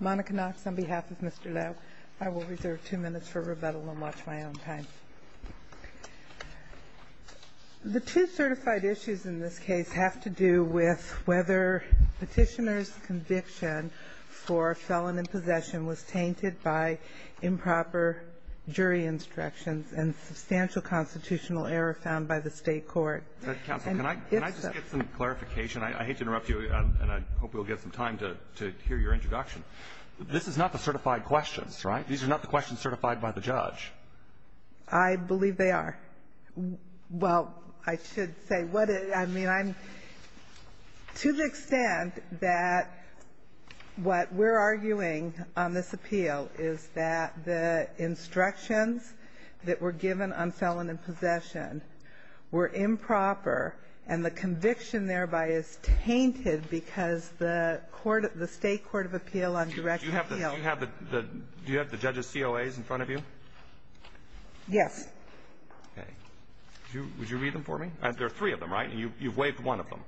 Monica Knox on behalf of Mr. Lowe. I will reserve two minutes for rebuttal and watch my own time. The two certified issues in this case have to do with whether petitioner's conviction for felon in possession was tainted by improper jury instructions and substantial constitutional error found by the state court. Counsel, can I just get some clarification? I hate to interrupt you, and I hope we'll get some time to hear your introduction. This is not the certified questions, right? These are not the questions certified by the judge. I believe they are. Well, I should say, to the extent that what we're arguing on this appeal is that the instructions that were given on felon in possession were improper, and the conviction thereby is tainted because the state court of appeal on direct appeal Do you have the judge's COAs in front of you? Yes. Would you read them for me? There are three of them, right? And you've waived one of them.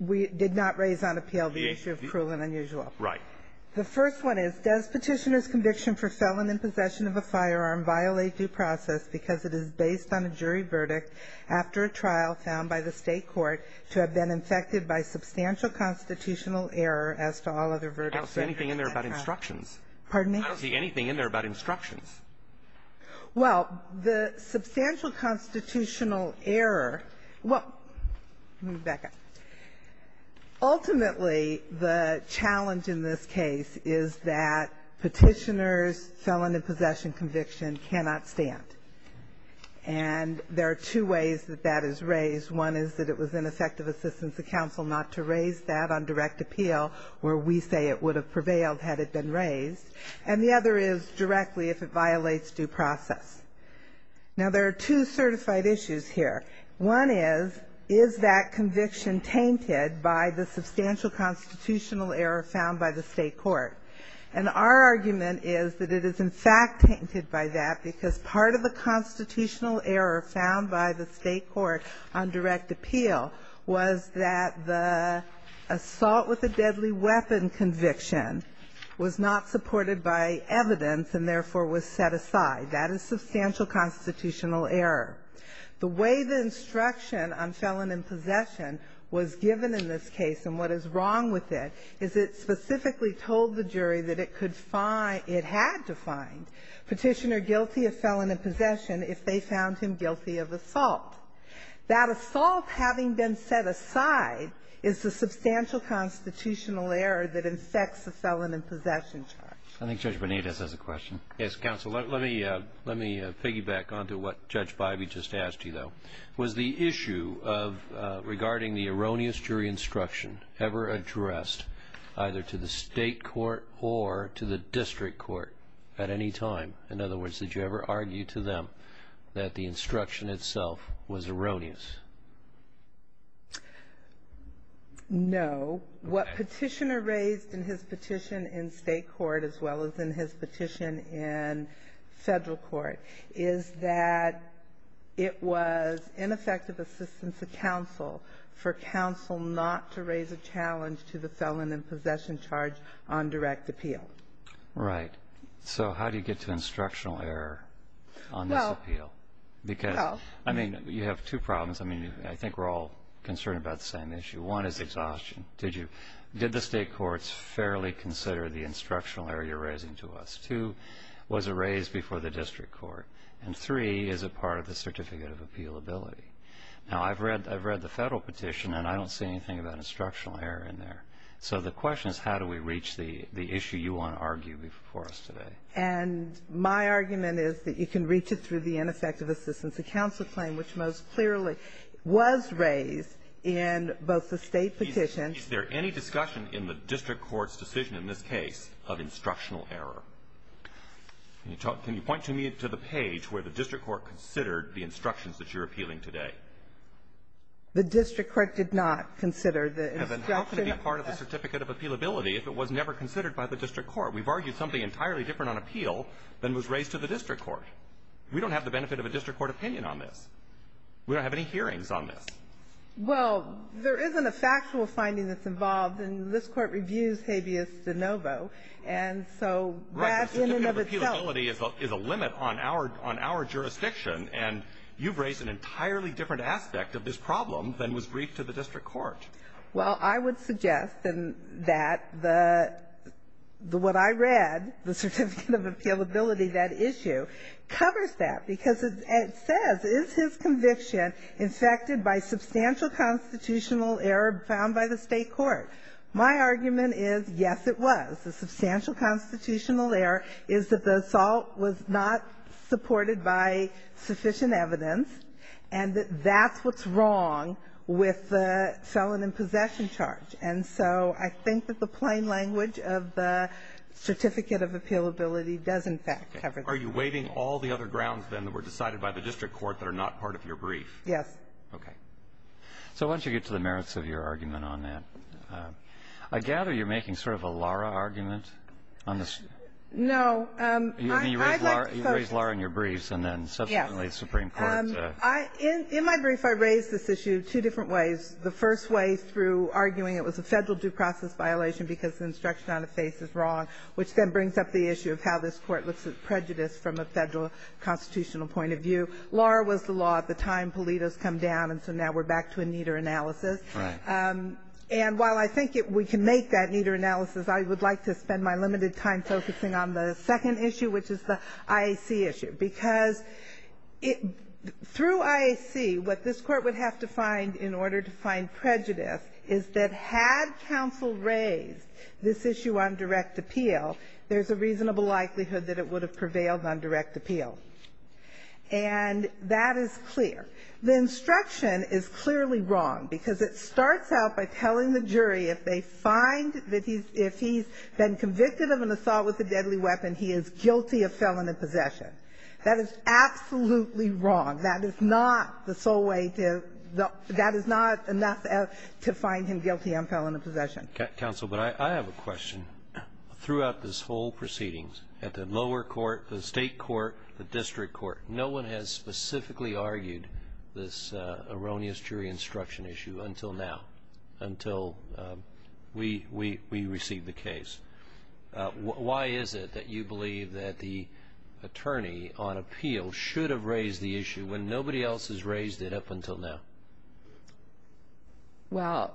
We did not raise on appeal the issue of cruel and unusual. Right. The first one is, does petitioner's conviction for felon in possession of a firearm violate due process because it is based on a jury verdict after a trial found by the state court to have been infected by substantial constitutional error as to all other verdicts. I don't see anything in there about instructions. Pardon me? I don't see anything in there about instructions. Well, the substantial constitutional error Well, let me back up. Ultimately, the challenge in this case is that petitioner's felon in possession conviction cannot stand. And there are two ways that that is raised. One is that it was ineffective assistance to counsel not to raise that on direct appeal, where we say it would have prevailed had it been raised. And the other is directly if it violates due process. Now, there are two certified issues here. One is, is that conviction tainted by the substantial constitutional error found by the state court? And our argument is that it is, in fact, tainted by that because part of the constitutional error found by the state court on direct appeal was that the assault with a deadly weapon conviction was not supported by evidence and therefore was set aside. That is substantial constitutional error. The way the instruction on felon in possession was given in this case and what is wrong with it is it specifically told the jury that it could find, it had to find petitioner guilty of felon in possession if they found him guilty of assault. That assault having been set aside is the substantial constitutional error that infects the felon in possession charge. I think Judge Benitez has a question. Yes, counsel, let me piggyback onto what Judge Bybee just asked you, though. Was the issue regarding the erroneous jury instruction ever addressed either to the state court or to the district court at any time? In other words, did you ever argue to them that the instruction itself was erroneous? No. What petitioner raised in his petition in state court as well as in his petition in federal court is that it was ineffective assistance to counsel for counsel not to raise a challenge to the felon in possession charge on direct appeal. Right, so how do you get to instructional error on this appeal? Because, I mean, you have two problems. I mean, I think we're all concerned about the same issue. One is exhaustion. Did the state courts fairly consider the instructional error you're raising to us? Two, was it raised before the district court? And three, is it part of the certificate of appealability? Now, I've read the federal petition and I don't see anything about instructional error in there. So the question is how do we reach the issue you want to argue before us today? And my argument is that you can reach it through the ineffective assistance to counsel claim, which most clearly was raised in both the state petitions. Is there any discussion in the district court's decision in this case of instructional error? Can you point to me to the page where the district court considered the instructions that you're appealing today? The district court did not consider the instruction of- And then how can it be part of the certificate of appealability if it was never considered by the district court? We've argued something entirely different on appeal than was raised to the district court. We don't have the benefit of a district court opinion on this. We don't have any hearings on this. Well, there isn't a factual finding that's involved and this court reviews habeas de novo. And so that's in and of itself- Right, the certificate of appealability is a limit on our jurisdiction and you've raised an entirely different aspect of this problem than was briefed to the district court. Well, I would suggest that what I read, the certificate of appealability, that issue, covers that because it says, is his conviction infected by substantial constitutional error found by the state court? My argument is, yes, it was. The substantial constitutional error is that the assault was not supported by sufficient evidence and that that's what's wrong with the felon in possession charge. And so I think that the plain language of the certificate of appealability does, in fact, cover that. Are you waiving all the other grounds then that were decided by the district court that are not part of your brief? Yes. Okay. So once you get to the merits of your argument on that, I gather you're making sort of a Lara argument on this? No, I'd like to focus- You raised Lara in your briefs and then subsequently the Supreme Court. In my brief, I raised this issue two different ways. The first way through arguing it was a federal due process violation because the instruction on the face is wrong, which then brings up the issue of how this court looks at prejudice from a federal constitutional point of view. Lara was the law at the time. Pulido's come down, and so now we're back to a neater analysis. And while I think we can make that neater analysis, I would like to spend my limited time focusing on the second issue, which is the IAC issue. Because through IAC, what this court would have to find in order to find prejudice is that had counsel raised this issue on direct appeal, there's a reasonable likelihood that it would have prevailed on direct appeal. And that is clear. The instruction is clearly wrong because it starts out by telling the jury if they find that he's, if he's been convicted of an assault with a deadly weapon, he is guilty of felon in possession. That is absolutely wrong. That is not the sole way to, that is not enough to find him guilty of felon in possession. Counsel, but I have a question. Throughout this whole proceedings, at the lower court, the state court, the district court, no one has specifically argued this erroneous jury instruction issue until now, until we received the case. Why is it that you believe that the attorney on appeal should have raised the issue when nobody else has raised it up until now? Well,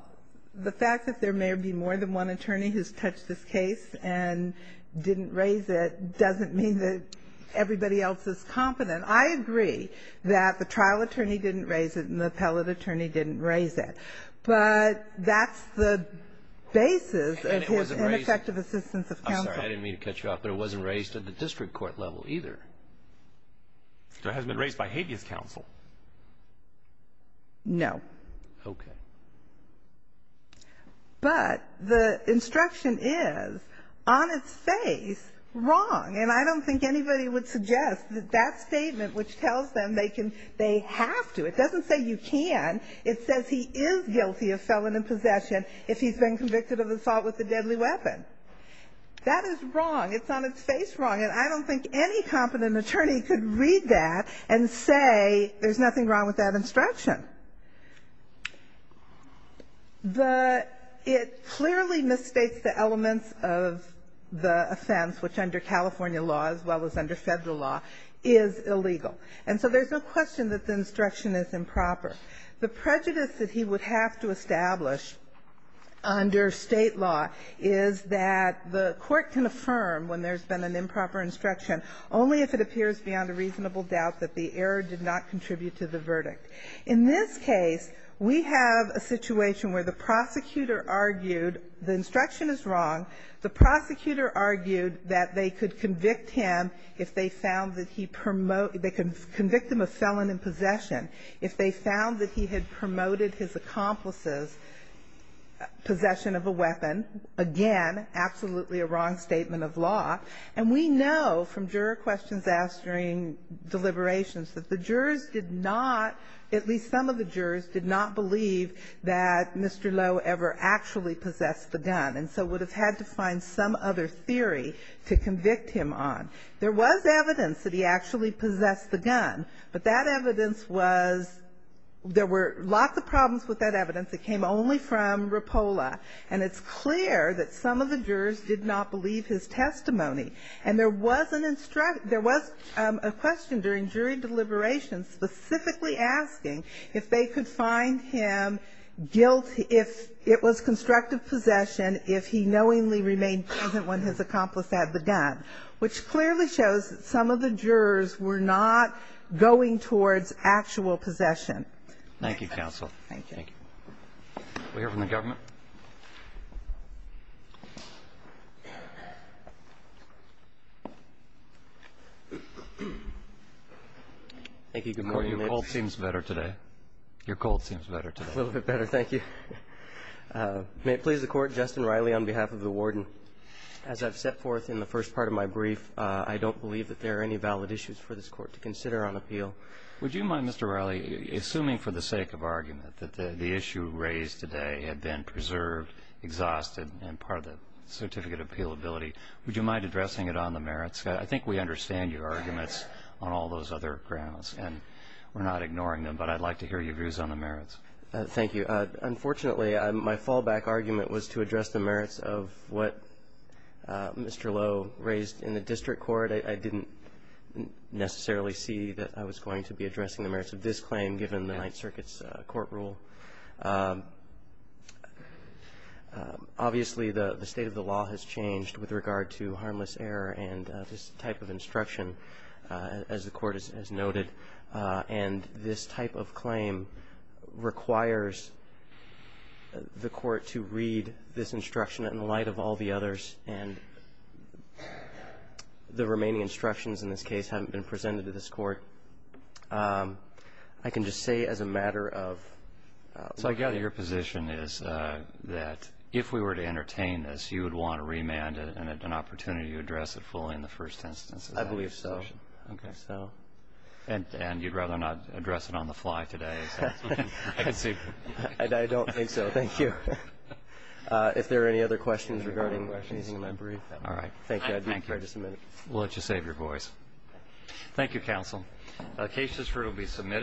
the fact that there may be more than one attorney who's touched this case and didn't raise it doesn't mean that everybody else is confident. I agree that the trial attorney didn't raise it and the appellate attorney didn't raise it. But that's the basis of his ineffective assessment. I'm sorry, I didn't mean to cut you off, but it wasn't raised at the district court level either. So it hasn't been raised by habeas counsel? No. Okay. But the instruction is, on its face, wrong. And I don't think anybody would suggest that that statement which tells them they have to, it doesn't say you can, it says he is guilty of felon in possession if he's been convicted of assault with a deadly weapon. That is wrong. It's on its face wrong. And I don't think any competent attorney could read that and say there's nothing wrong with that instruction. It clearly misstates the elements of the offense, which under California law, as well as under federal law, is illegal. And so there's no question that the instruction is improper. The prejudice that he would have to establish under state law is that the court can affirm when there's been an improper instruction only if it appears beyond a reasonable doubt that the error did not contribute to the verdict. In this case, we have a situation where the prosecutor argued the instruction is wrong. The prosecutor argued that they could convict him if they found that he, they could convict him of felon in possession. If they found that he had promoted his accomplice's possession of a weapon, again, absolutely a wrong statement of law. And we know from juror questions asked during deliberations that the jurors did not, at least some of the jurors did not believe that Mr. Lowe ever actually possessed the gun. And so would have had to find some other theory to convict him on. There was evidence that he actually possessed the gun, but that evidence was, there were lots of problems with that evidence. It came only from Rapola. And it's clear that some of the jurors did not believe his testimony. And there was an instruction, there was a question during jury deliberations specifically asking if they could find him guilty if it was constructive possession, if he knowingly remained present when his accomplice had the gun, which clearly shows that some of the jurors were not going towards actual possession. Thank you, counsel. Thank you. Thank you. We'll hear from the government. Thank you, your cold seems better today. Your cold seems better today. A little bit better, thank you. May it please the court, Justin Riley on behalf of the warden. As I've set forth in the first part of my brief, I don't believe that there are any valid issues for this court to consider on appeal. Would you mind, Mr. Riley, assuming for the sake of argument that the issue raised today had been preserved, exhausted, and part of the certificate of appealability, would you mind addressing it on the merits? I think we understand your arguments on all those other grounds, and we're not ignoring them, but I'd like to hear your views on the merits. Thank you. Unfortunately, my fallback argument was to address the merits of what Mr. Lowe raised in the district court. I didn't necessarily see that I was going to be addressing the merits of this claim given the Ninth Circuit's court rule. Obviously, the state of the law has changed with regard to harmless error and this type of instruction, as the court has noted. And this type of claim requires the court to read this instruction in light of all the others and the remaining instructions in this case haven't been presented to this court. I can just say as a matter of... So I gather your position is that if we were to entertain this, you would want to remand it and at an opportunity to address it fully in the first instance. I believe so. Okay. So... And you'd rather not address it on the fly today. I don't think so. Thank you. If there are any other questions regarding questions in my brief. All right. Thank you. I'd be glad to submit it. We'll let you save your voice. Thank you, counsel. Cases for it will be submitted.